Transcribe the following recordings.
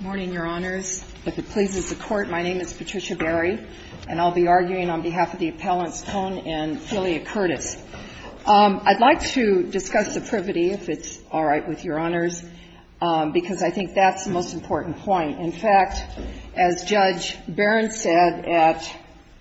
Morning, Your Honors. If it pleases the Court, my name is Patricia Berry, and I'll be arguing on behalf of the Appellants Cohn and Filia Kourtis. I'd like to discuss the privity, if it's all right with Your Honors, because I think that's the most important point. In fact, as Judge Barron said at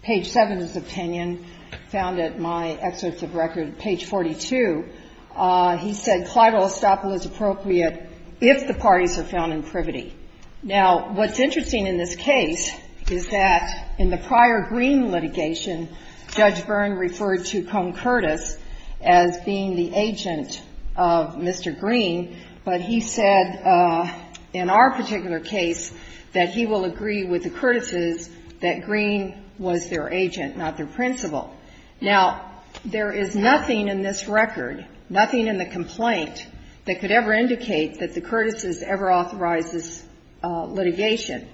page 7 of his opinion, found at my excerpts of record at page 42, he said clival estoppel is appropriate if the parties are found in privity. Now, what's interesting in this case is that in the prior Greene litigation, Judge Barron referred to Cohn-Kourtis as being the agent of Mr. Greene, but he said in our particular case that he will agree with the Kourtises that Greene was their agent, not their principal. Now, there is nothing in this record, nothing in the complaint, that could ever indicate that the Kourtises ever authorized this litigation.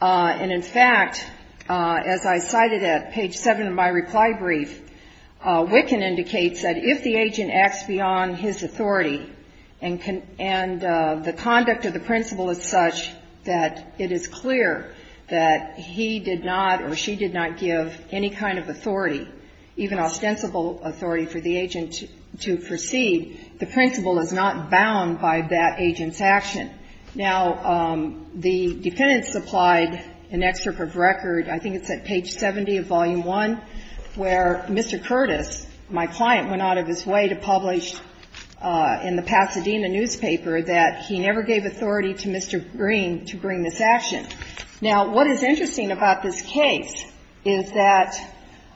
And in fact, as I cited at page 7 of my reply brief, Wicken indicates that if the agent acts beyond his authority and the conduct of the principal is such that it is clear that he did not or she did not give any kind of authority, even ostensible authority for the agent to proceed, the principal is not bound by that agent's action. Now, the defendant supplied an excerpt of record, I think it's at page 70 of Volume I, where Mr. Kourtis, my client, went out of his way to publish in the Pasadena newspaper that he never gave authority to Mr. Greene to bring this action. Now, what is interesting about this case is that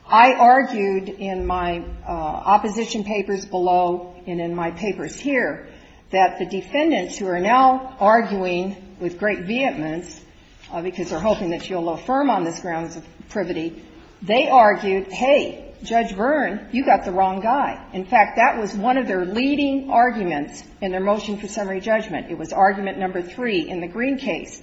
I argued in my opposition papers below and in my papers here that the defendants who are now arguing with great vehemence, because they're hoping that you'll affirm on this grounds of privity, they argued, hey, Judge Byrne, you got the wrong guy. In fact, that was one of their leading arguments in their motion for summary judgment. It was argument number three in the Greene case.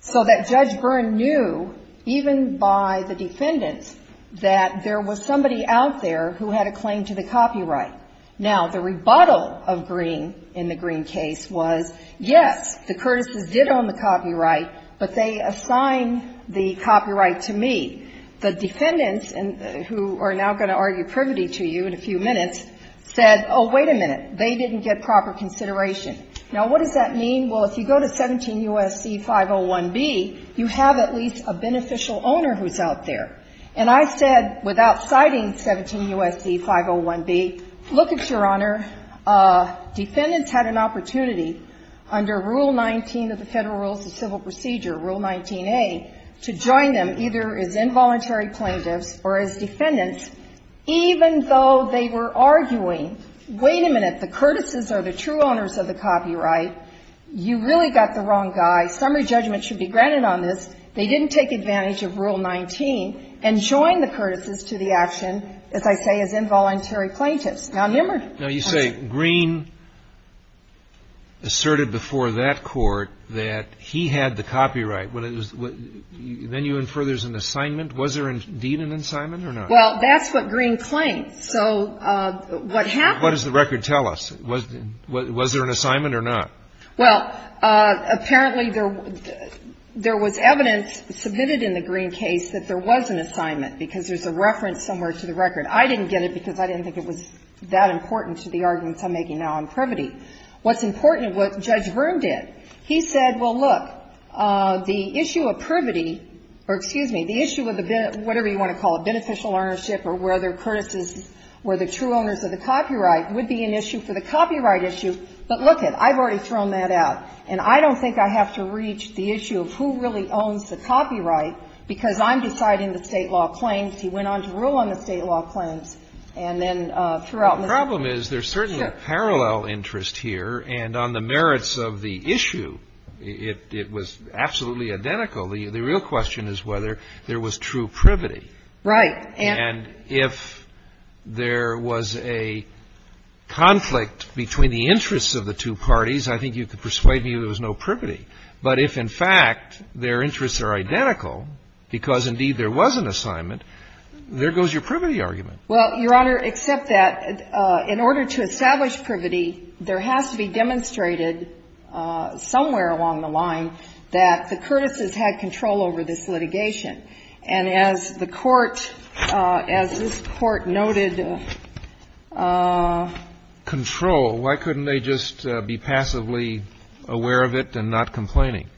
So that Judge Byrne knew, even by the defendants, that there was somebody out there who had a claim to the copyright. Now, the rebuttal of Greene in the Greene case was, yes, the Kourtises did own the copyright, but they assigned the copyright to me. The defendants, who are now going to argue privity to you in a few minutes, said, oh, wait a minute. They didn't get proper consideration. Now, what does that mean? Well, if you go to 17 U.S.C. 501B, you have at least a beneficial owner who's out there. And I said, without citing 17 U.S.C. 501B, look, Your Honor, defendants had an opportunity under Rule 19 of the Federal Rules of Civil Procedure, Rule 19A, to join them either as involuntary plaintiffs or as defendants, even though they were arguing, wait a minute, the Kourtises are the true owners of the copyright. You really got the wrong guy. Summary judgment should be granted on this. They didn't take advantage of Rule 19 and join the Kourtises to the action, as I say, as involuntary plaintiffs. Now, remember. Now, you say Greene asserted before that Court that he had the copyright. Then you infer there's an assignment. Was there indeed an assignment or not? Well, that's what Greene claims. So what happened? What does the record tell us? Was there an assignment or not? Well, apparently, there was evidence submitted in the Greene case that there was an assignment because there's a reference somewhere to the record. I didn't get it because I didn't think it was that important to the arguments I'm making now on privity. What's important, what Judge Verne did, he said, well, look, the issue of privity or, excuse me, the issue of the, whatever you want to call it, beneficial ownership or whether Kourtises were the true owners of the copyright would be an issue for the copyright issue. But lookit. I've already thrown that out. And I don't think I have to reach the issue of who really owns the copyright because I'm deciding the State law claims. The problem is there's certainly a parallel interest here. And on the merits of the issue, it was absolutely identical. The real question is whether there was true privity. Right. And if there was a conflict between the interests of the two parties, I think you could persuade me there was no privity. But if, in fact, their interests are identical because, indeed, there was an assignment, there goes your privity argument. Well, Your Honor, except that in order to establish privity, there has to be demonstrated somewhere along the line that the Kourtises had control over this litigation. And as the Court, as this Court noted, control, why couldn't they just be passively aware of it and not complaining?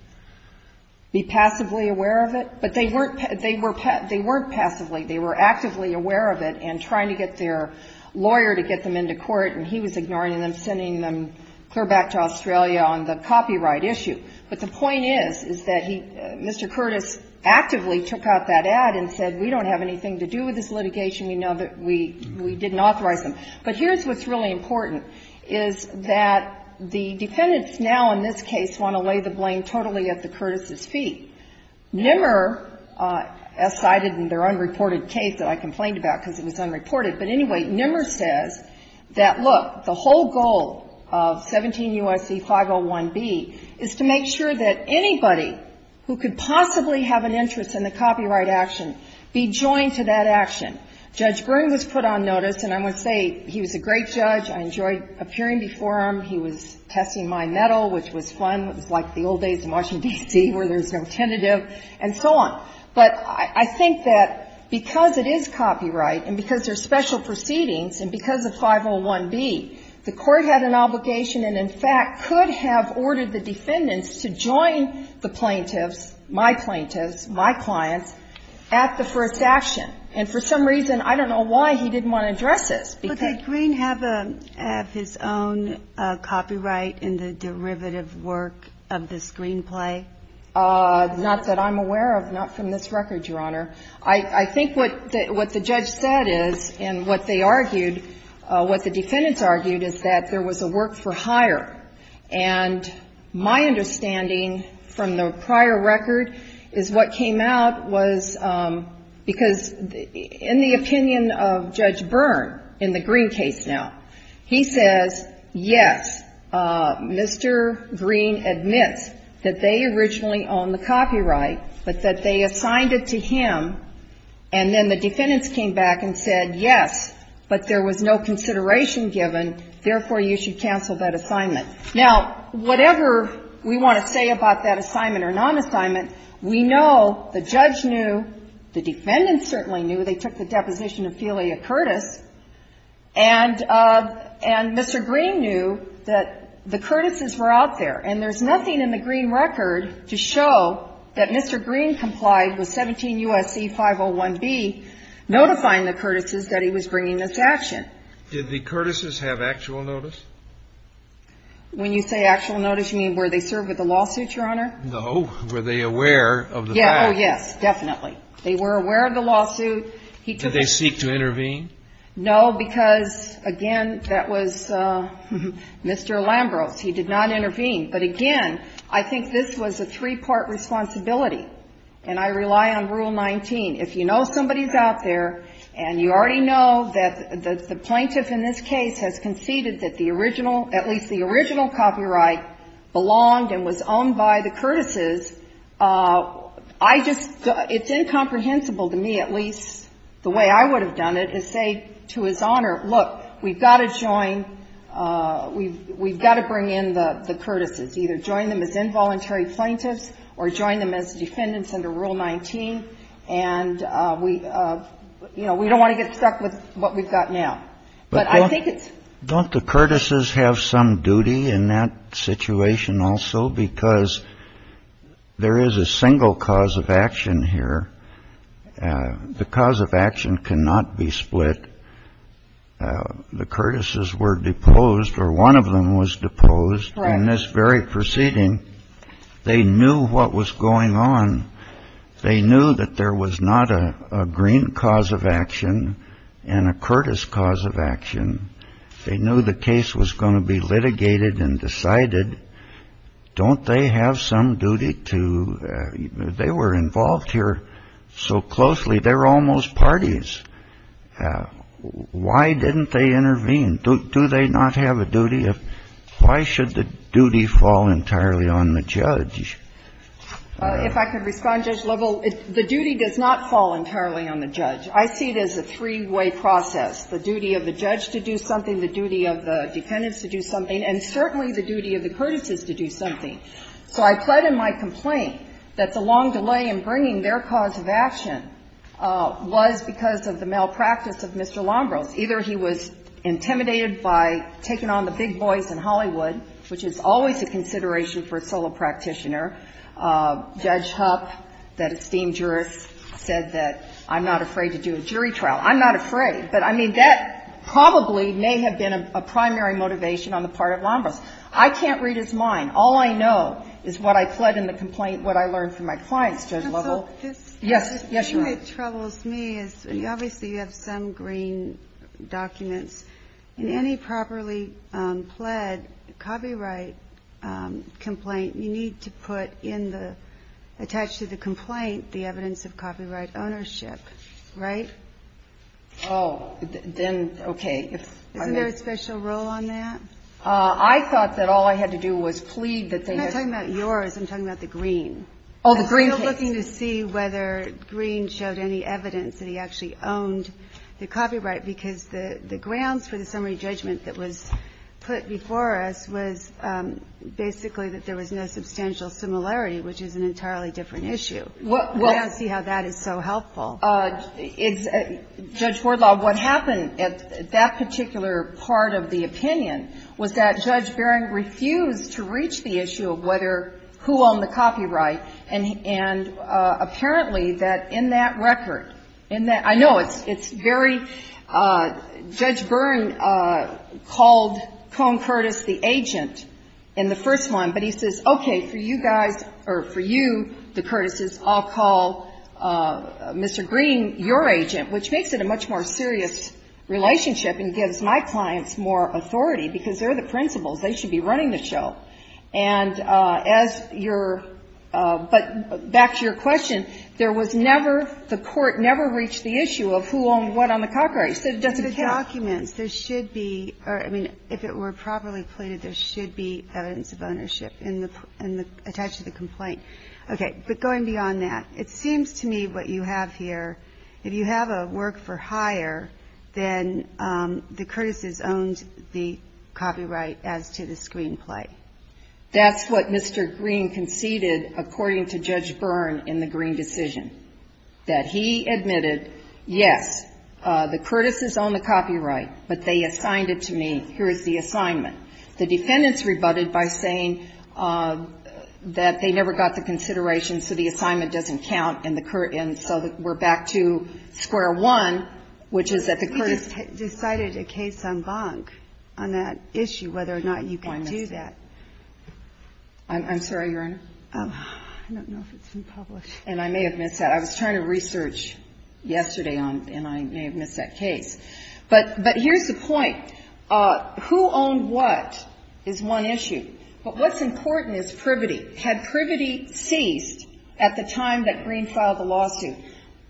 Be passively aware of it? But they weren't passively. They were actively aware of it. And trying to get their lawyer to get them into court, and he was ignoring them, sending them clear back to Australia on the copyright issue. But the point is, is that he, Mr. Curtis, actively took out that ad and said, we don't have anything to do with this litigation. We know that we didn't authorize them. But here's what's really important, is that the defendants now in this case want to lay the blame totally at the Kourtises' feet. Nimmer, as cited in their unreported case that I complained about because it was unreported, but anyway, Nimmer says that, look, the whole goal of 17 U.S.C. 501B is to make sure that anybody who could possibly have an interest in the copyright action be joined to that action. Judge Byrne was put on notice, and I must say, he was a great judge. I enjoyed appearing before him. He was testing my mettle, which was fun. It was like the old days in Washington, D.C., where there's no tentative and so on. But I think that because it is copyright and because there's special proceedings and because of 501B, the Court had an obligation and, in fact, could have ordered the defendants to join the plaintiffs, my plaintiffs, my clients, at the first action. And for some reason, I don't know why, he didn't want to address this. But did Green have his own copyright in the derivative work of this Green play? Not that I'm aware of. Not from this record, Your Honor. I think what the judge said is and what they argued, what the defendants argued, is that there was a work-for-hire. And my understanding from the prior record is what came out was because in the opinion of Judge Byrne in the Green case now, he says, yes, Mr. Green admits that they originally owned the copyright, but that they assigned it to him, and then the defendants came back and said, yes, but there was no consideration given. Therefore, you should cancel that assignment. Now, whatever we want to say about that assignment or non-assignment, we know the judge knew, the defendants certainly knew, they took the deposition of Felia Curtis, and Mr. Green knew that the Curtis's were out there. And there's nothing in the Green record to show that Mr. Green complied with 17 U.S.C. 501B, notifying the Curtis's that he was bringing this action. Did the Curtis's have actual notice? When you say actual notice, you mean where they served with the lawsuit, Your Honor? Were they aware of the fact? Oh, yes, definitely. They were aware of the lawsuit. Did they seek to intervene? No, because, again, that was Mr. Lambros. He did not intervene. But, again, I think this was a three-part responsibility, and I rely on Rule 19. If you know somebody is out there and you already know that the plaintiff in this I just, it's incomprehensible to me at least, the way I would have done it, is say to His Honor, look, we've got to join, we've got to bring in the Curtis's, either join them as involuntary plaintiffs or join them as defendants under Rule 19, and we, you know, we don't want to get stuck with what we've got now. But I think it's Don't the Curtis's have some duty in that situation also? Because there is a single cause of action here. The cause of action cannot be split. The Curtis's were deposed, or one of them was deposed in this very proceeding. They knew what was going on. They knew that there was not a green cause of action and a Curtis cause of action. And they knew the case was going to be litigated and decided. Don't they have some duty to they were involved here so closely, they're almost parties. Why didn't they intervene? Do they not have a duty? Why should the duty fall entirely on the judge? If I could respond, Judge Lovell. The duty does not fall entirely on the judge. I see it as a three-way process. The duty of the judge to do something, the duty of the defendants to do something, and certainly the duty of the Curtis's to do something. So I pled in my complaint that the long delay in bringing their cause of action was because of the malpractice of Mr. Lombros. Either he was intimidated by taking on the big boys in Hollywood, which is always a consideration for a solo practitioner. Judge Hupp, that esteemed jurist, said that I'm not afraid to do a jury trial. I'm not afraid. But, I mean, that probably may have been a primary motivation on the part of Lombros. I can't read his mind. All I know is what I pled in the complaint, what I learned from my clients, Judge Lovell. Counsel, this thing that troubles me is obviously you have some green documents. In any properly pled copyright complaint, you need to put in the attached to the complaint the evidence of copyright ownership, right? Oh, then, okay. Isn't there a special role on that? I thought that all I had to do was plead that they had to do that. I'm not talking about yours. I'm talking about the green. Oh, the green case. I'm still looking to see whether green showed any evidence that he actually owned the copyright, because the grounds for the summary judgment that was put before us was basically that there was no substantial similarity, which is an entirely different issue. I don't see how that is so helpful. It's — Judge Wardlaw, what happened at that particular part of the opinion was that Judge Bering refused to reach the issue of whether — who owned the copyright, and apparently that in that record, in that — I know it's very — Judge Bering called Cone Curtis the agent in the first one, but he says, okay, for you guys — or for you, the Curtis' — I'll call Mr. Green your agent, which makes it a much more serious relationship and gives my clients more authority, because they're the principals. They should be running the show. And as your — but back to your question, there was never — the court never reached the issue of who owned what on the copyright. So it doesn't count. In the documents, there should be — or, I mean, if it were properly plated, there should be evidence of ownership in the — attached to the complaint. Okay. But going beyond that, it seems to me what you have here, if you have a work-for-hire, then the Curtis' owned the copyright as to the screenplay. That's what Mr. Green conceded, according to Judge Byrne, in the Green decision, that he admitted, yes, the Curtis' owned the copyright, but they assigned it to me. Here is the assignment. The defendants rebutted by saying that they never got the consideration, so the assignment doesn't count, and the — and so we're back to square one, which is that the Curtis' — You just decided a case en banc on that issue, whether or not you can do that. I'm sorry, Your Honor? I don't know if it's been published. And I may have missed that. I was trying to research yesterday on — and I may have missed that case. But here's the point. Who owned what is one issue. But what's important is privity. Had privity ceased at the time that Green filed the lawsuit?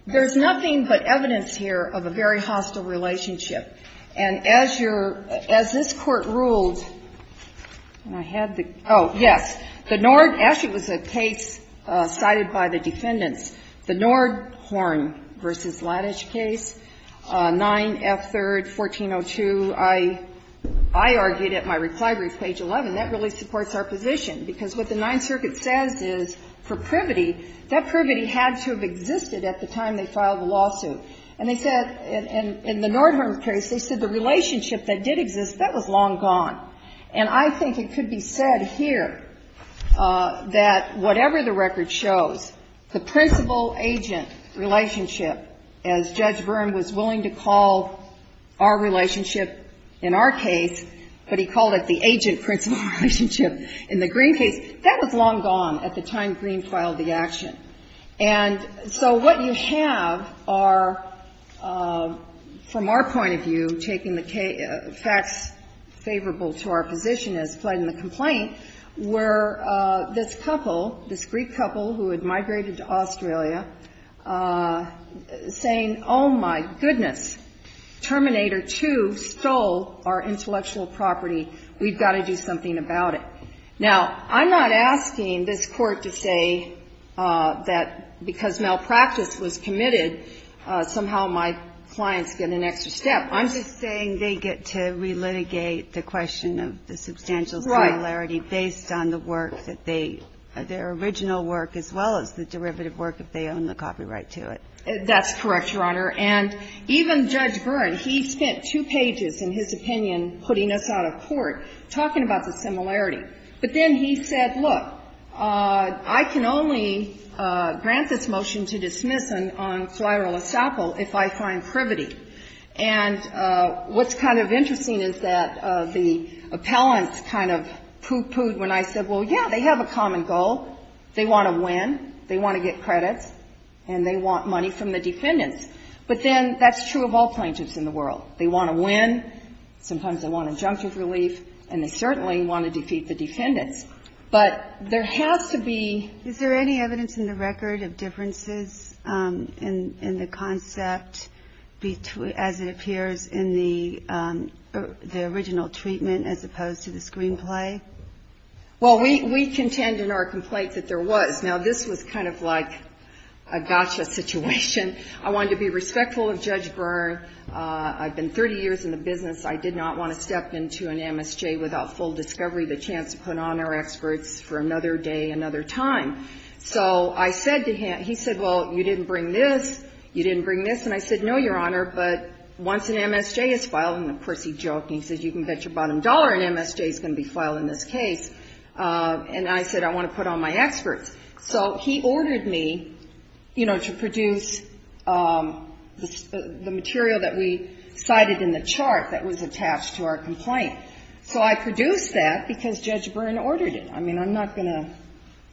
There's nothing but evidence here of a very hostile relationship. And as your — as this Court ruled — and I had the — oh, yes. The Nord — actually, it was a case cited by the defendants. The Nordhorn v. Laddish case, 9F3rd, 1402. I argued at my reply brief, page 11, that really supports our position, because what the Ninth Circuit says is for privity, that privity had to have existed at the time they filed the lawsuit. And they said — in the Nordhorn case, they said the relationship that did exist, that was long gone. And I think it could be said here that whatever the record shows, the principle agent relationship, as Judge Byrne was willing to call our relationship in our case, but he called it the agent-principle relationship in the Green case, that was long gone at the time Green filed the action. And so what you have are, from our point of view, taking the facts favorable to our position as pled in the complaint, were this couple, this Greek couple who had migrated to Australia, saying, oh, my goodness, Terminator 2 stole our intellectual property, we've got to do something about it. Now, I'm not asking this Court to say that because malpractice was committed, somehow my clients get an extra step. I'm just saying they get to re-litigate the question of the substantial similarity based on the work that they — their original work as well as the derivative work if they own the copyright to it. That's correct, Your Honor. And even Judge Byrne, he spent two pages, in his opinion, putting us out of court talking about the similarity. But then he said, look, I can only grant this motion to dismiss on soire le sapel if I find privity. And what's kind of interesting is that the appellant kind of poo-pooed when I said, well, yeah, they have a common goal. They want to win. They want to get credits. And they want money from the defendants. But then that's true of all plaintiffs in the world. They want to win. Sometimes they want injunctive relief. And they certainly want to defeat the defendants. But there has to be — Well, we contend in our complaint that there was. Now, this was kind of like a gotcha situation. I wanted to be respectful of Judge Byrne. I've been 30 years in the business. I did not want to step into an MSJ without full discovery, the chance to put on our experts for another day, another time. So I said to him — he said, well, you didn't bring this. You didn't bring this. And I said, no, Your Honor, but once an MSJ is filed — and, of course, he joked, and he said, you can bet your bottom dollar an MSJ is going to be filed in this case. And I said, I want to put on my experts. So he ordered me, you know, to produce the material that we cited in the chart that was attached to our complaint. So I produced that because Judge Byrne ordered it. I mean, I'm not going to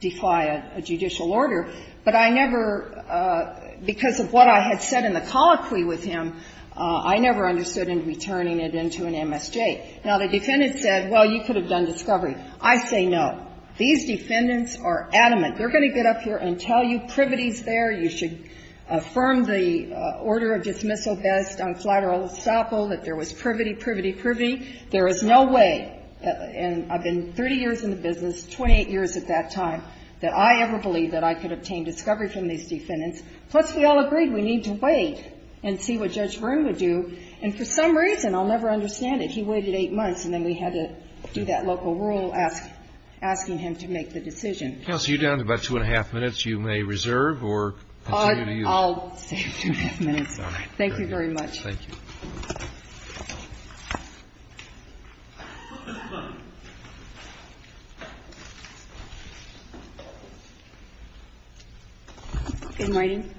defy a judicial order, but I never — because of what I had said in the colloquy with him, I never understood him returning it into an MSJ. Now, the defendant said, well, you could have done discovery. I say no. These defendants are adamant. They're going to get up here and tell you privity's there. You should affirm the order of dismissal based on collateral estoppel, that there was privity, privity, privity. There is no way. And I've been 30 years in the business, 28 years at that time, that I ever believed that I could obtain discovery from these defendants. Plus, we all agreed we need to wait and see what Judge Byrne would do. And for some reason, I'll never understand it, he waited eight months and then we had to do that local rule asking him to make the decision. So you're down to about two and a half minutes. You may reserve or continue to use. I'll save two and a half minutes. Thank you very much. Thank you. Good morning.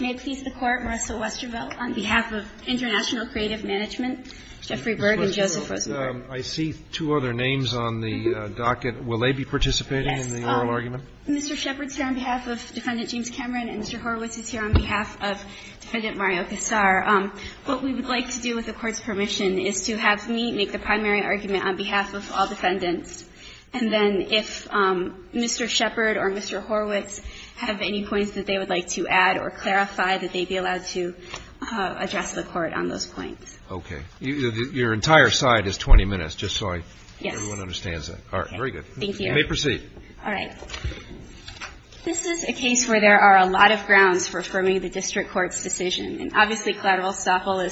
May it please the Court, Marissa Westervelt, on behalf of International Creative Management, Jeffrey Berg and Joseph Rosenberg. I see two other names on the docket. Will they be participating in the oral argument? Yes. Mr. Shepard is here on behalf of Defendant James Cameron and Mr. Horowitz is here on behalf of Defendant Mario Casar. What we would like to do with the Court's permission is to have me make the primary argument on behalf of all defendants. And then if Mr. Shepard or Mr. Horowitz have any points that they would like to add or clarify, that they be allowed to address the Court on those points. Okay. Your entire side is 20 minutes, just so everyone understands that. Yes. All right, very good. Thank you. You may proceed. All right. This is a case where there are a lot of grounds for affirming the district court's decision. And obviously collateral estoppel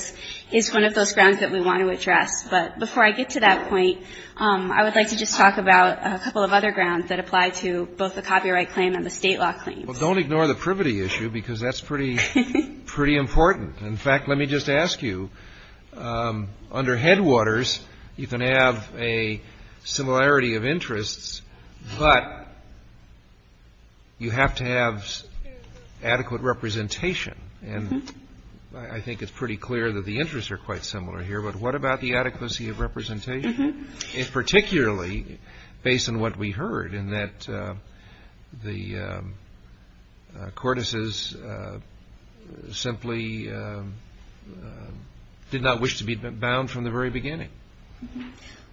is one of those grounds that we want to address. But before I get to that point, I would like to just talk about a couple of other grounds that apply to both the copyright claim and the state law claim. Well, don't ignore the privity issue, because that's pretty important. In fact, let me just ask you, under Headwaters, you can have a similarity of interests, but you have to have adequate representation. And I think it's pretty clear that the interests are quite similar here. But what about the adequacy of representation, particularly based on what we heard, in that the courtesans simply did not wish to be bound from the very beginning?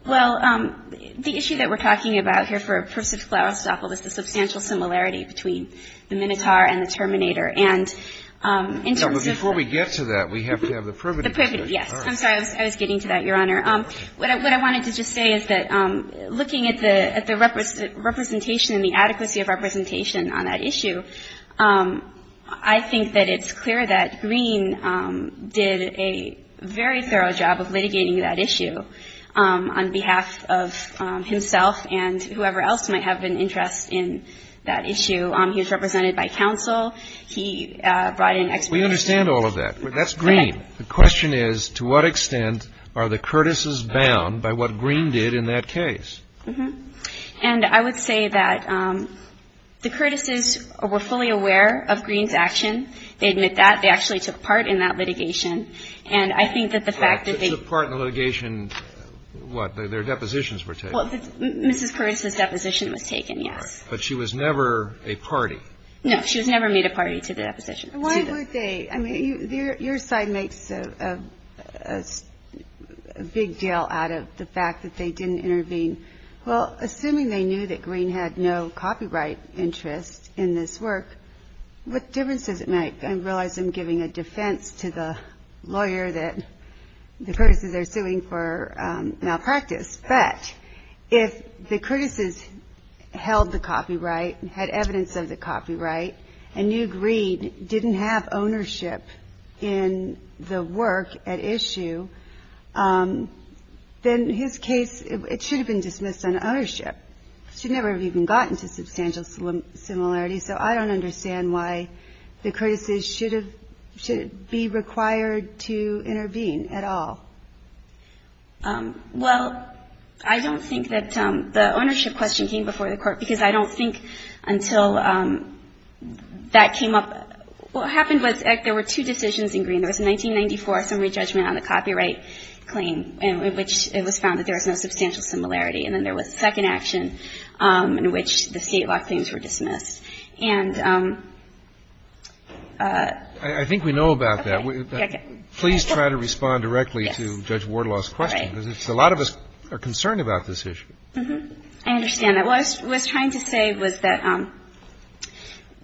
Well, the issue that we're talking about here for a pursuit of collateral estoppel is the substantial similarity between the Minotaur and the Terminator. And in terms of the ---- No, but before we get to that, we have to have the privity. The privity, yes. I'm sorry. I was getting to that, Your Honor. What I wanted to just say is that looking at the representation and the adequacy of representation on that issue, I think that it's clear that Green did a very thorough job of litigating that issue on behalf of himself and whoever else might have an interest in that issue. He was represented by counsel. He brought in experts. We understand all of that. That's Green. The question is, to what extent are the courtesans bound by what Green did in that case? And I would say that the courtesans were fully aware of Green's action. They admit that. They actually took part in that litigation. And I think that the fact that they ---- They took part in the litigation. What? Their depositions were taken. Well, Mrs. Curtis's deposition was taken, yes. All right. But she was never a party. No, she was never made a party to the deposition. Why would they? I mean, your side makes a big deal out of the fact that they didn't intervene. Well, assuming they knew that Green had no copyright interest in this work, what difference does it make? I realize I'm giving a defense to the lawyer that the courtesans are suing for malpractice. But if the courtesans held the copyright, had evidence of the copyright, and knew Green didn't have ownership in the work at issue, then his case, it should have been dismissed on ownership. It should never have even gotten to substantial similarity. So I don't understand why the courtesans should be required to intervene at all. Well, I don't think that the ownership question came before the court, because I don't think until that came up. What happened was there were two decisions in Green. There was a 1994 summary judgment on the copyright claim, in which it was found that there was no substantial similarity. And then there was a second action in which the state law claims were dismissed. And ---- I think we know about that. Okay. Please try to respond directly to Judge Wardlaw's question. Right. Because a lot of us are concerned about this issue. I understand. What I was trying to say was that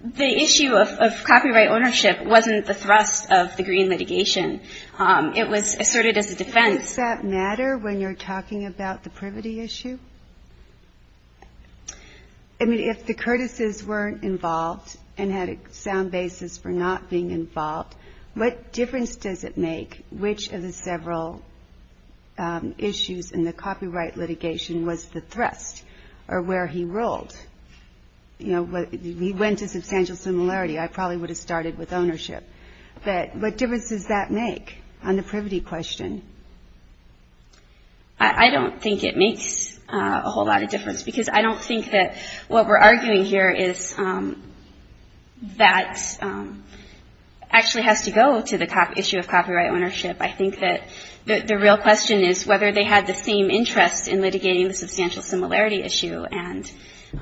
the issue of copyright ownership wasn't the thrust of the Green litigation. It was asserted as a defense. Does that matter when you're talking about the privity issue? I mean, if the courtesans weren't involved and had a sound basis for not being involved, what difference does it make which of the several issues in the copyright litigation was the thrust or where he ruled? You know, he went to substantial similarity. I probably would have started with ownership. But what difference does that make on the privity question? I don't think it makes a whole lot of difference because I don't think that what we're arguing here is that actually has to go to the issue of copyright ownership. I think that the real question is whether they had the same interest in litigating the substantial similarity issue. And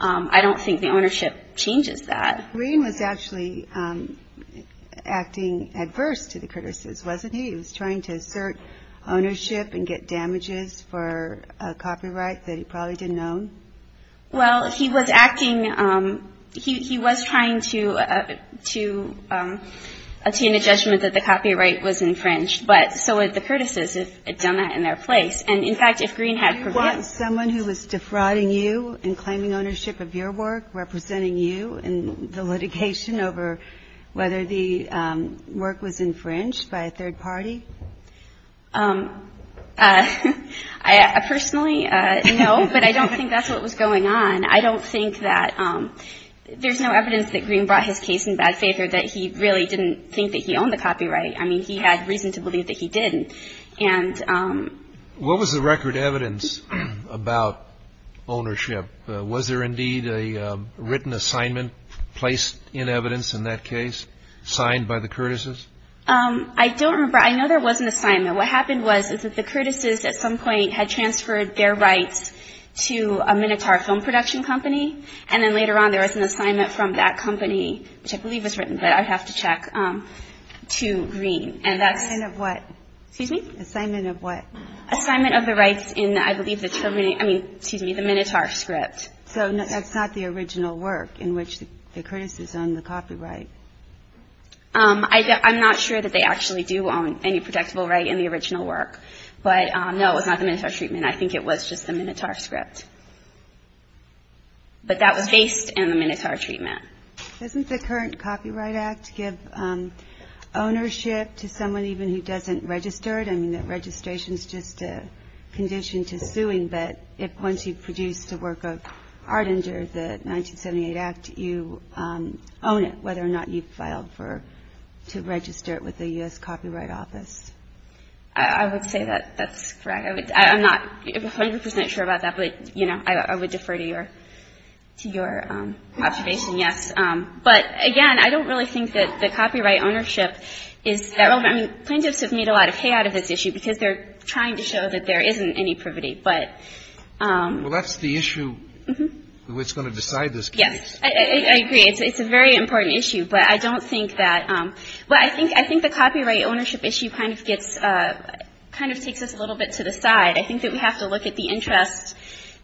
I don't think the ownership changes that. Green was actually acting adverse to the courtesans, wasn't he? He was trying to assert ownership and get damages for a copyright that he probably didn't own. Well, he was acting – he was trying to attain a judgment that the copyright was infringed. But so were the courtesans if they had done that in their place. And, in fact, if Green had prevailed – You want someone who was defrauding you and claiming ownership of your work, representing you in the litigation over whether the work was infringed by a third party? I personally know, but I don't think that's what was going on. I don't think that – there's no evidence that Green brought his case in bad favor, that he really didn't think that he owned the copyright. I mean, he had reason to believe that he didn't. And – What was the record evidence about ownership? Was there indeed a written assignment placed in evidence in that case signed by the courtesans? I don't remember. I know there was an assignment. What happened was is that the courtesans at some point had transferred their rights to a Minotaur film production company, and then later on there was an assignment from that company, which I believe was written, but I'd have to check, to Green. And that's – Assignment of what? Excuse me? Assignment of what? I mean, excuse me, the Minotaur script. So that's not the original work in which the courtesans own the copyright? I'm not sure that they actually do own any protectable right in the original work. But, no, it's not the Minotaur treatment. I think it was just the Minotaur script. But that was based in the Minotaur treatment. Doesn't the current Copyright Act give ownership to someone even who doesn't register it? I mean, that registration is just a condition to suing, but once you've produced a work of art under the 1978 Act, you own it whether or not you've filed to register it with the U.S. Copyright Office. I would say that that's correct. I'm not 100 percent sure about that, but, you know, I would defer to your observation, yes. But, again, I don't really think that the copyright ownership is that relevant. I mean, plaintiffs have made a lot of hay out of this issue because they're trying to show that there isn't any privity. But ---- Well, that's the issue that's going to decide this case. Yes. I agree. It's a very important issue. But I don't think that ---- well, I think the copyright ownership issue kind of gets ---- kind of takes us a little bit to the side. I think that we have to look at the interest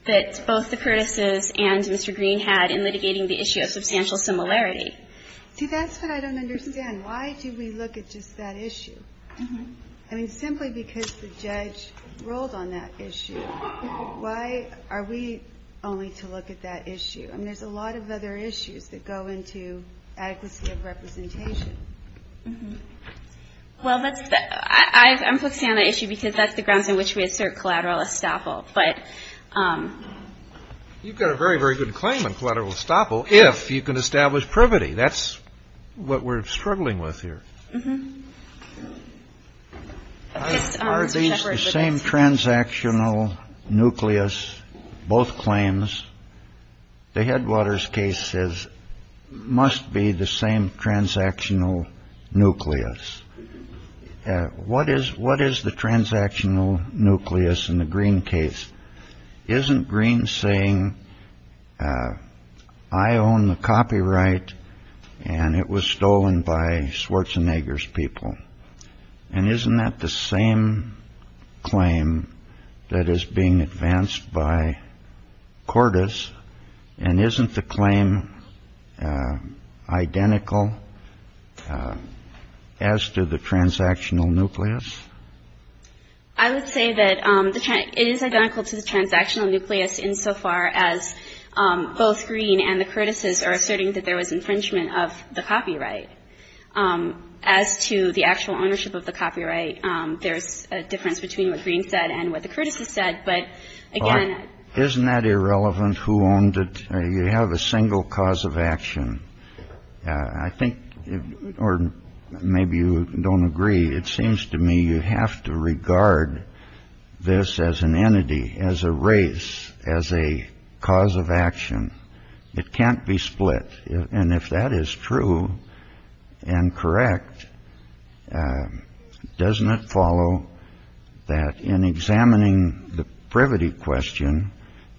that both the courtesans and Mr. Green had in litigating the issue of substantial similarity. See, that's what I don't understand. Why do we look at just that issue? I mean, simply because the judge ruled on that issue. Why are we only to look at that issue? I mean, there's a lot of other issues that go into adequacy of representation. Well, that's the ---- I'm focusing on that issue because that's the grounds on which we assert collateral estoppel. But ---- You've got a very, very good claim on collateral estoppel if you can establish privity. That's what we're struggling with here. Are these the same transactional nucleus, both claims? The Headwaters case says must be the same transactional nucleus. What is the transactional nucleus in the Green case? Isn't Green saying, I own the copyright and it was stolen by Schwarzenegger's people? And isn't that the same claim that is being advanced by Cordes? And isn't the claim identical as to the transactional nucleus? I would say that it is identical to the transactional nucleus insofar as both Green and the Curtis's are asserting that there was infringement of the copyright. As to the actual ownership of the copyright, there's a difference between what Green said and what the Curtis's said. But again ---- Isn't that irrelevant who owned it? You have a single cause of action. I think, or maybe you don't agree, it seems to me you have to regard this as an entity, as a race, as a cause of action. It can't be split. And if that is true and correct, doesn't it follow that in examining the privity question,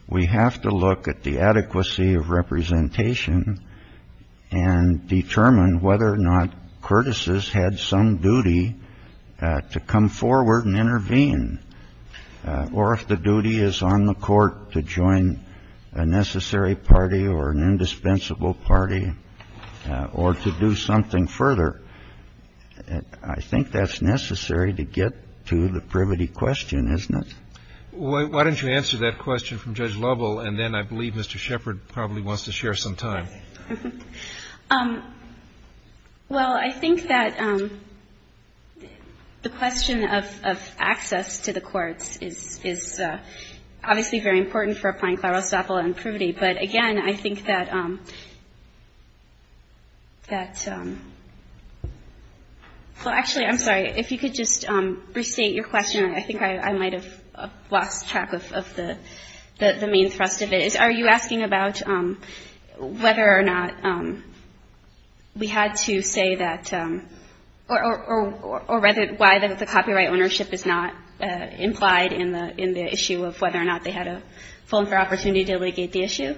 we have to look at the adequacy of representation and determine whether or not Curtis's had some duty to come forward and intervene? Or if the duty is on the court to join a necessary party or an indispensable party or to do something further. I think that's necessary to get to the privity question, isn't it? Why don't you answer that question from Judge Lovell, and then I believe Mr. Shepard probably wants to share some time. Well, I think that the question of access to the courts is obviously very important for applying claro-staple and privity. But again, I think that ---- Well, actually, I'm sorry. If you could just restate your question. I think I might have lost track of the main thrust of it. Are you asking about whether or not we had to say that or why the copyright ownership is not implied in the issue of whether or not they had a full and fair opportunity to allegate the issue?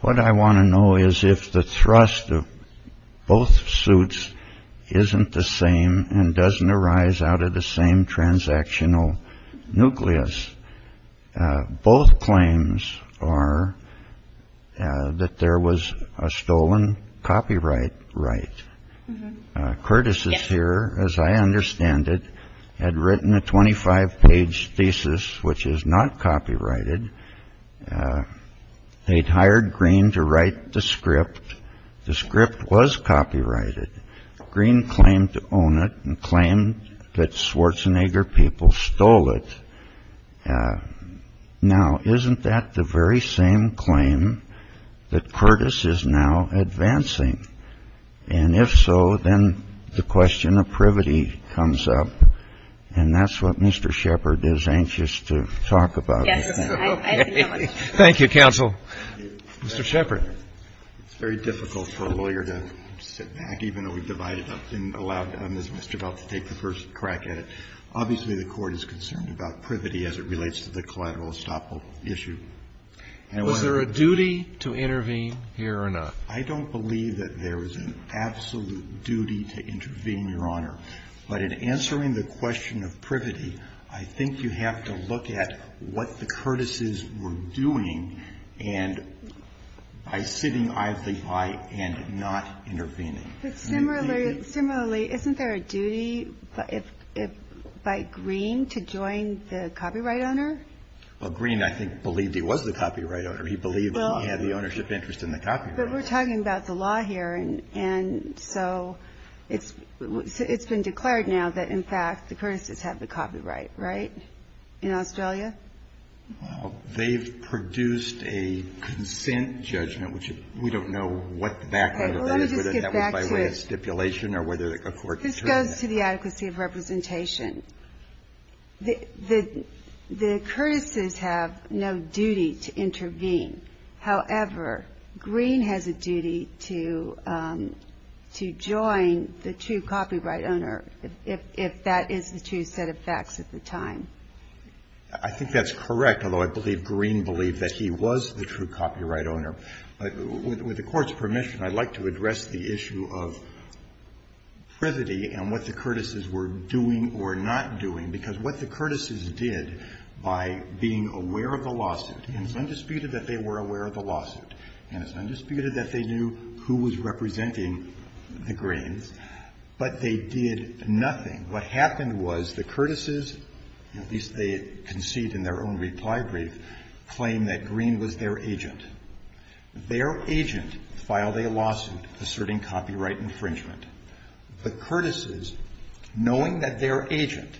What I want to know is if the thrust of both suits isn't the same and doesn't arise out of the same transactional nucleus. Both claims are that there was a stolen copyright right. Curtis is here, as I understand it, had written a 25-page thesis which is not copyrighted. They'd hired Green to write the script. The script was copyrighted. Green claimed to own it and claimed that Schwarzenegger people stole it. Now, isn't that the very same claim that Curtis is now advancing? And if so, then the question of privity comes up. And that's what Mr. Shepard is anxious to talk about. Yes. Thank you, counsel. Mr. Shepard. It's very difficult for a lawyer to sit back, even though we've divided up and allowed Mr. Bell to take the first crack at it. Obviously, the Court is concerned about privity as it relates to the collateral estoppel issue. Was there a duty to intervene here or not? I don't believe that there is an absolute duty to intervene, Your Honor. But in answering the question of privity, I think you have to look at what the Curtises were doing and by sitting idly by and not intervening. But similarly, isn't there a duty by Green to join the copyright owner? Well, Green, I think, believed he was the copyright owner. He believed he had the ownership interest in the copyright. But we're talking about the law here. And so it's been declared now that, in fact, the Curtises have the copyright, right, in Australia? Well, they've produced a consent judgment, which we don't know what the background of that is, whether that was by way of stipulation or whether a court determined that. This goes to the adequacy of representation. The Curtises have no duty to intervene. However, Green has a duty to join the true copyright owner if that is the true set of facts at the time. I think that's correct, although I believe Green believed that he was the true copyright owner. With the Court's permission, I'd like to address the issue of privity and what the Curtises were doing or not doing, because what the Curtises did by being aware of the lawsuit, and it's undisputed that they were aware of the lawsuit, and it's undisputed that they knew who was representing the Greens, but they did nothing. What happened was the Curtises, at least they concede in their own reply brief, claimed that Green was their agent. Their agent filed a lawsuit asserting copyright infringement. The Curtises, knowing that their agent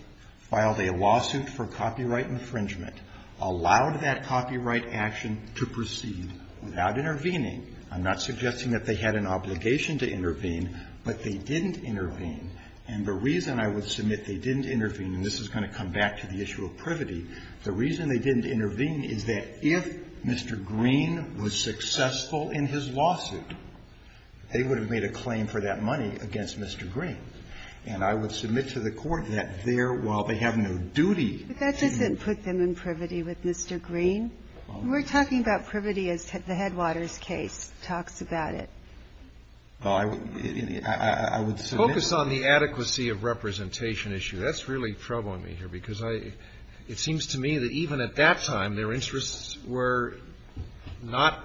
filed a lawsuit for copyright infringement, allowed that copyright action to proceed without intervening. I'm not suggesting that they had an obligation to intervene, but they didn't intervene. And the reason I would submit they didn't intervene, and this is going to come back to the issue of privity, the reason they didn't intervene is that if Mr. Green was successful in his lawsuit, they would have made a claim for that money against Mr. Green. And I would submit to the Court that there, while they have no duty to do that. And I would not make that argument. The case is not a case of privacy with Mr. Green. We're talking about privity as the Headwaters case talks about it. Focus on the adequacy of representation issue. That's really troubling me here, because I – it seems to me that even at that time when their interests were not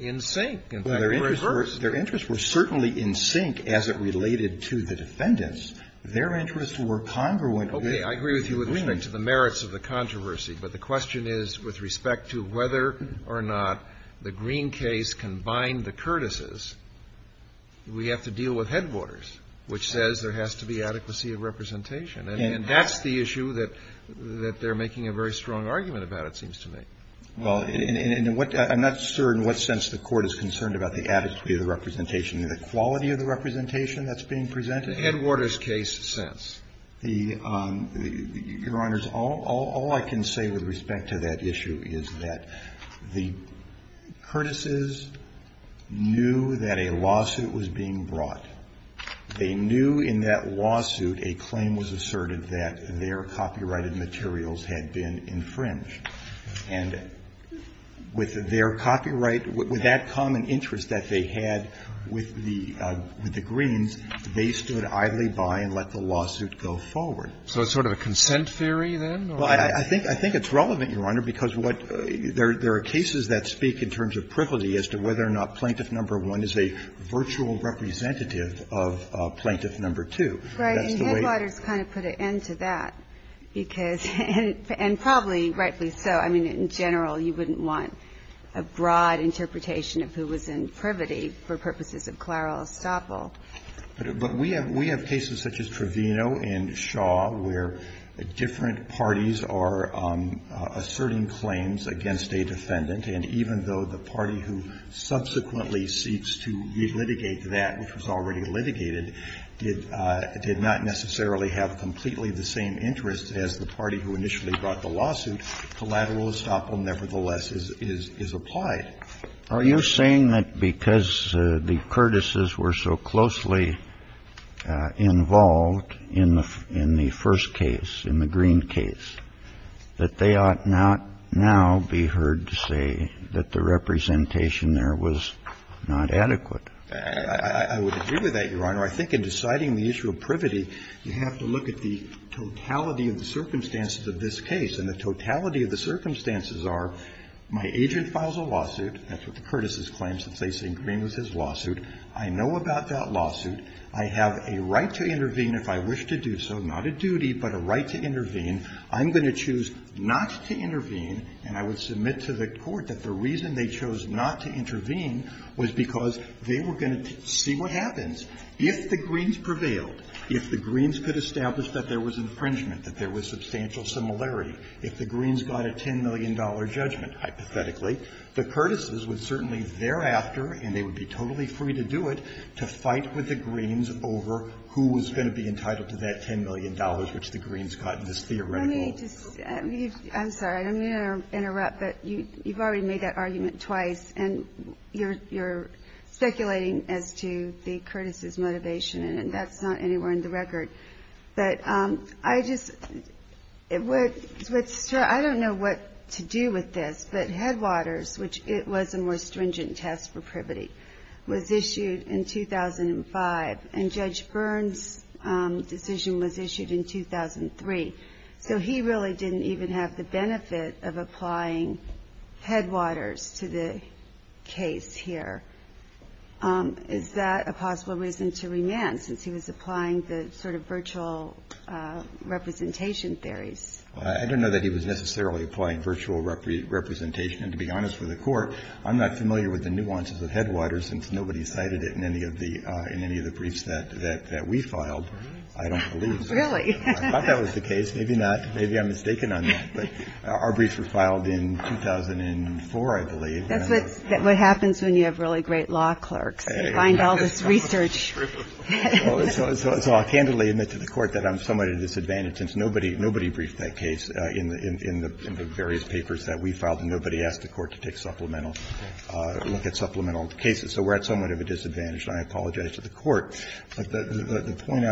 in sync, in fact, were reversed. Well, their interests were certainly in sync as it related to the defendants. Their interests were congruent with the Green's. Okay. I agree with you with respect to the merits of the controversy, but the question is with respect to whether or not the Green case can bind the Curtis's, we have to deal with Headwaters, which says there has to be adequacy of representation. And that's the issue that they're making a very strong argument about, it seems to me. Well, and what – I'm not sure in what sense the Court is concerned about the adequacy of the representation, the quality of the representation that's being presented. The Headwaters case says. The – Your Honors, all I can say with respect to that issue is that the Curtis's knew that a lawsuit was being brought. They knew in that lawsuit a claim was asserted that their copyrighted materials had been infringed. And with their copyright, with that common interest that they had with the – with the Greens, they stood idly by and let the lawsuit go forward. So it's sort of a consent theory then? Well, I think it's relevant, Your Honor, because what – there are cases that speak in terms of privity as to whether or not Plaintiff No. 1 is a virtual representative of Plaintiff No. 2. That's the way – Right. And Headwaters kind of put an end to that because – and probably rightly so. I mean, in general, you wouldn't want a broad interpretation of who was in privity for purposes of clerical estoppel. But we have – we have cases such as Trevino and Shaw where different parties are asserting claims against a defendant, and even though the party who subsequently seeks to re-litigate that, which was already litigated, did not necessarily have completely the same interests as the party who initially brought the lawsuit, collateral estoppel nevertheless is applied. Are you saying that because the Curtis's were so closely involved in the first case, in the Green case, that they ought not now be heard to say that the representation there was not adequate? I would agree with that, Your Honor. I think in deciding the issue of privity, you have to look at the totality of the circumstances of this case, and the totality of the circumstances are my agent files a lawsuit. That's what the Curtis's claims since they say Green was his lawsuit. I know about that lawsuit. I have a right to intervene if I wish to do so. Not a duty, but a right to intervene. I'm going to choose not to intervene, and I would submit to the Court that the reason they chose not to intervene was because they were going to see what happens. If the Greens prevailed, if the Greens could establish that there was infringement, that there was substantial similarity, if the Greens got a $10 million judgment, hypothetically, the Curtis's would certainly thereafter, and they would be totally free to do it, to fight with the Greens over who was going to be entitled to that $10 million which the Greens got in this theoretical. Let me just – I'm sorry. I'm going to interrupt, but you've already made that argument twice, and you're speculating as to the Curtis's motivation, and that's not anywhere in the record. But I just – what's – I don't know what to do with this, but Headwaters, which it was a more stringent test for privity, was issued in 2005, and Judge Byrne's decision was issued in 2003. So he really didn't even have the benefit of applying Headwaters to the case here. Is that a possible reason to remand, since he was applying the sort of virtual representation theories? I don't know that he was necessarily applying virtual representation, and to be honest with the Court, I'm not familiar with the nuances of Headwaters, since nobody cited it in any of the – in any of the briefs that we filed. I don't believe so. Really? I thought that was the case. Maybe not. Maybe I'm mistaken on that. But our briefs were filed in 2004, I believe. That's what happens when you have really great law clerks. They find all this research. So I'll candidly admit to the Court that I'm somewhat at a disadvantage, and since nobody briefed that case in the various papers that we filed, nobody asked the Court to take supplemental – look at supplemental cases. So we're at somewhat of a disadvantage, and I apologize to the Court. But the point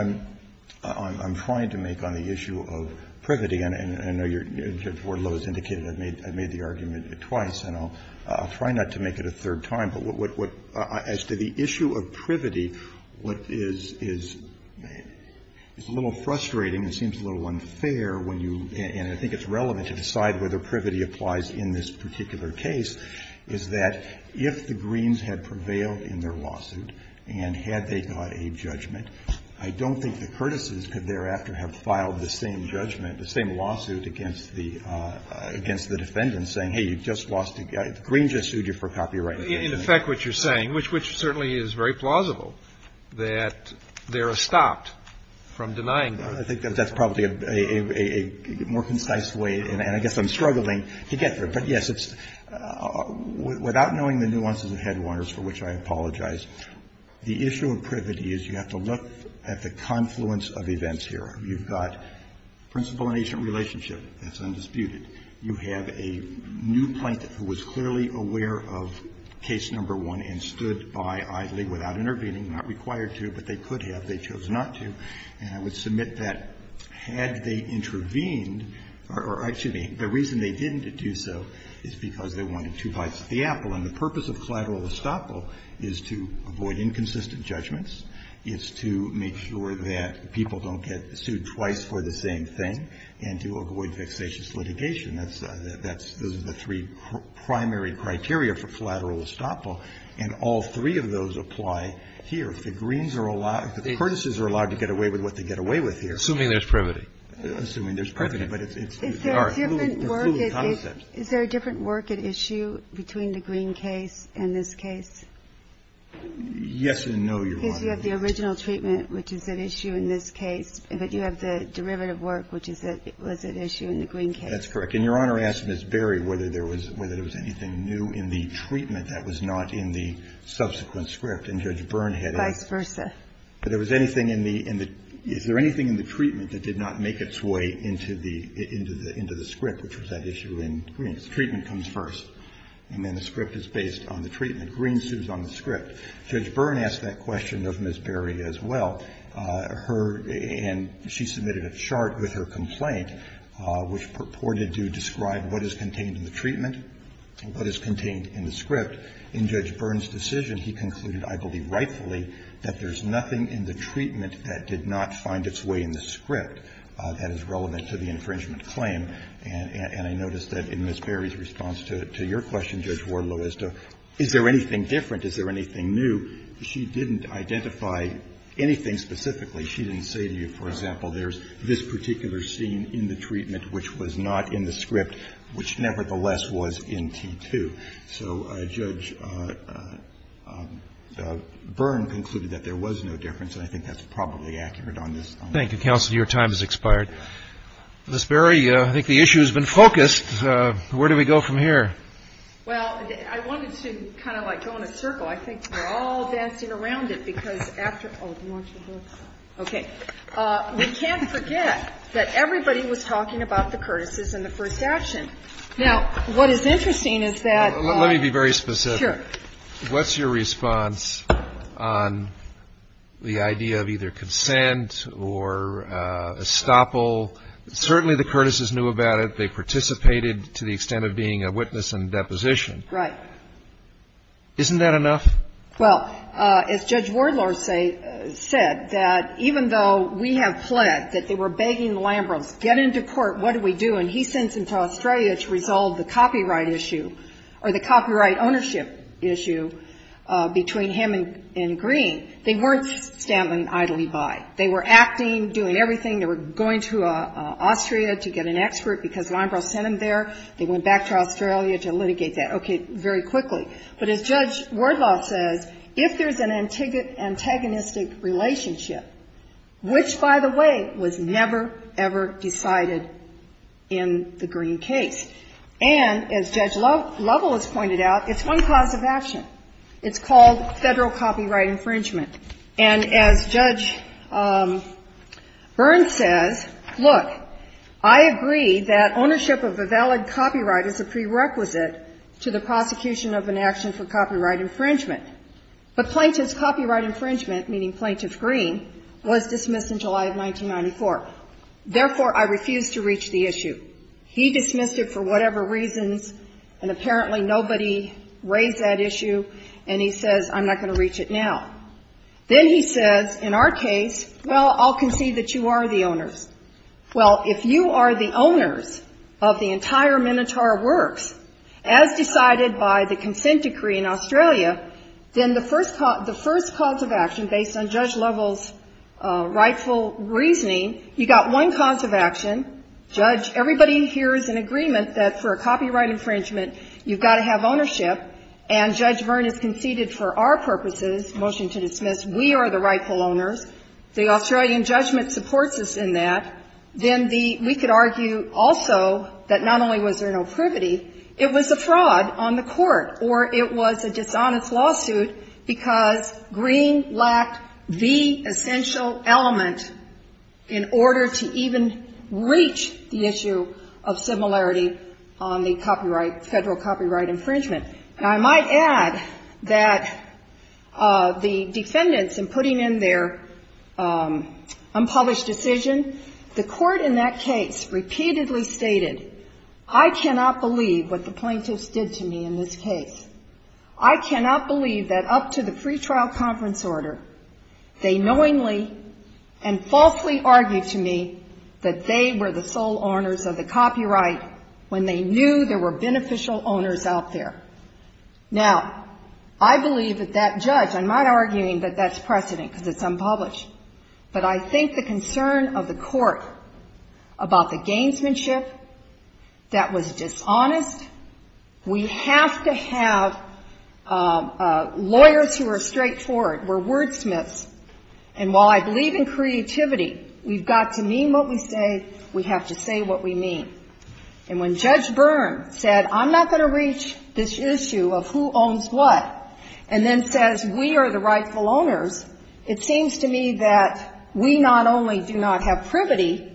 I'm trying to make on the issue of privity, and I know your four lows indicated I've made the argument twice, and I'll try not to make it a third time. But what – as to the issue of privity, what is a little frustrating and seems a little unfair when you – and I think it's relevant to decide whether privity applies in this particular case – is that if the Greens had prevailed in their lawsuit and had they got a judgment, I don't think the Curtises could thereafter have filed the same judgment, the same lawsuit against the – against the defendants saying, hey, you just lost – the Greens just sued you for copyright infringement. In effect, what you're saying, which certainly is very plausible, that they're stopped from denying them. So I think that's probably a more concise way, and I guess I'm struggling to get there. But, yes, it's – without knowing the nuances of Headwaters, for which I apologize, the issue of privity is you have to look at the confluence of events here. You've got principal and agent relationship. That's undisputed. You have a new plaintiff who was clearly aware of case number one and stood by idly without intervening, not required to, but they could have. They chose not to. And I would submit that had they intervened – or, excuse me, the reason they didn't do so is because they wanted to buy the apple. And the purpose of collateral estoppel is to avoid inconsistent judgments, is to make sure that people don't get sued twice for the same thing, and to avoid vexatious litigation. That's – those are the three primary criteria for collateral estoppel, and all three of those apply here. If the greens are allowed – the courtesans are allowed to get away with what they get away with here. Assuming there's privity. Assuming there's privity. But it's – Is there a different work at issue between the Green case and this case? Yes and no, Your Honor. Because you have the original treatment, which is at issue in this case, but you have the derivative work, which was at issue in the Green case. That's correct. And, Your Honor, I asked Ms. Berry whether there was anything new in the treatment that was not in the subsequent script. And Judge Byrne had a – Vice versa. But there was anything in the – is there anything in the treatment that did not make its way into the – into the – into the script, which was at issue in Green? Treatment comes first. And then the script is based on the treatment. Green sues on the script. Judge Byrne asked that question of Ms. Berry as well. Her – and she submitted a chart with her complaint, which purported to describe what is contained in the treatment, what is contained in the script. In Judge Byrne's decision, he concluded, I believe rightfully, that there's nothing in the treatment that did not find its way in the script that is relevant to the infringement claim. And I noticed that in Ms. Berry's response to your question, Judge Wardlow, as to is there anything different, is there anything new, she didn't identify anything specifically. She didn't say to you, for example, there's this particular scene in the treatment which was not in the script, which nevertheless was in T2. So Judge Byrne concluded that there was no difference, and I think that's probably accurate on this. Thank you, counsel. Your time has expired. Ms. Berry, I think the issue has been focused. Where do we go from here? Well, I wanted to kind of like go in a circle. I think we're all dancing around it, because after – oh, do you want your book? Okay. We can't forget that everybody was talking about the courtesies and the first action. Now, what is interesting is that – Let me be very specific. Sure. What's your response on the idea of either consent or estoppel? Certainly the courtesies knew about it. They participated to the extent of being a witness and deposition. Right. Isn't that enough? Well, as Judge Wardlaw said, that even though we have pled that they were begging Lambros, get into court, what do we do? And he sends him to Australia to resolve the copyright issue or the copyright ownership issue between him and Green. They weren't standing idly by. They were acting, doing everything. They were going to Austria to get an expert, because Lambros sent them there. They went back to Australia to litigate that. Okay. Very quickly. But as Judge Wardlaw says, if there's an antagonistic relationship, which, by the way, was never, ever decided in the Green case, and as Judge Lovell has pointed out, it's one cause of action. It's called federal copyright infringement. And as Judge Burns says, look, I agree that ownership of a valid copyright is a prerequisite to the prosecution of an action for copyright infringement. But plaintiff's copyright infringement, meaning Plaintiff Green, was dismissed in July of 1994. Therefore, I refuse to reach the issue. He dismissed it for whatever reasons, and apparently nobody raised that issue, and he says, I'm not going to reach it now. Then he says, in our case, well, I'll concede that you are the owners. Well, if you are the owners of the entire Minotaur Works, as decided by the consent decree in Australia, then the first cause of action, based on Judge Lovell's rightful reasoning, you got one cause of action. Judge, everybody here is in agreement that for a copyright infringement, you've got to have ownership, and Judge Burns conceded for our purposes, motion to dismiss, we are the rightful owners. The Australian judgment supports us in that. Then we could argue also that not only was there no privity, it was a fraud on the court, or it was a dishonest lawsuit because Green lacked the essential element in order to even reach the issue of similarity on the copyright, Federal copyright infringement. And I might add that the defendants in putting in their unpublished decision, the court in that case repeatedly stated, I cannot believe what the plaintiffs did to me in this case. I cannot believe that up to the pretrial conference order, they knowingly and falsely argued to me that they were the sole owners of the copyright when they knew there were beneficial owners out there. Now, I believe that that judge, I'm not arguing that that's precedent because it's unpublished, but I think the concern of the court about the gamesmanship that was dishonest, we have to have lawyers who are straightforward, we're wordsmiths, and while I believe in creativity, we've got to mean what we say, we have to say what we mean. And when Judge Byrne said, I'm not going to reach this issue of who owns what, and then says we are the rightful owners, it seems to me that we not only do not have privity,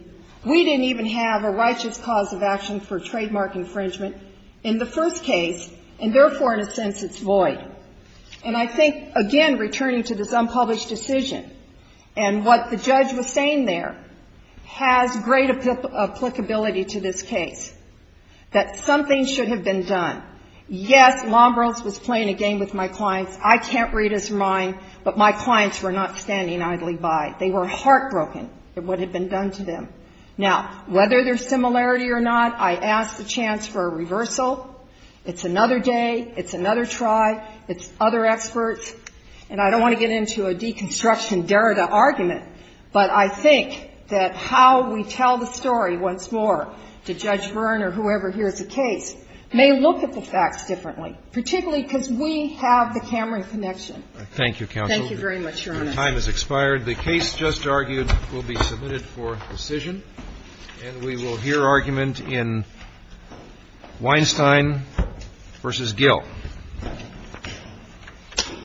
we didn't even have a righteous cause of action for trademark infringement in the first case, and therefore, in a sense, it's void. And I think, again, returning to this unpublished decision, and what the judge was saying there has great applicability to this case, that something should have been done. Yes, Lombrils was playing a game with my clients. I can't read his mind, but my clients were not standing idly by. They were heartbroken at what had been done to them. Now, whether there's similarity or not, I ask the chance for a reversal. It's another day. It's another try. It's other experts. And I don't want to get into a deconstruction derrida argument, but I think that how we tell the story once more to Judge Byrne or whoever hears the case may look at the facts differently, particularly because we have the Cameron connection. Thank you, counsel. Thank you very much, Your Honor. The time has expired. The case just argued will be submitted for decision. And we will hear argument in Weinstein v. Gill. Thank you.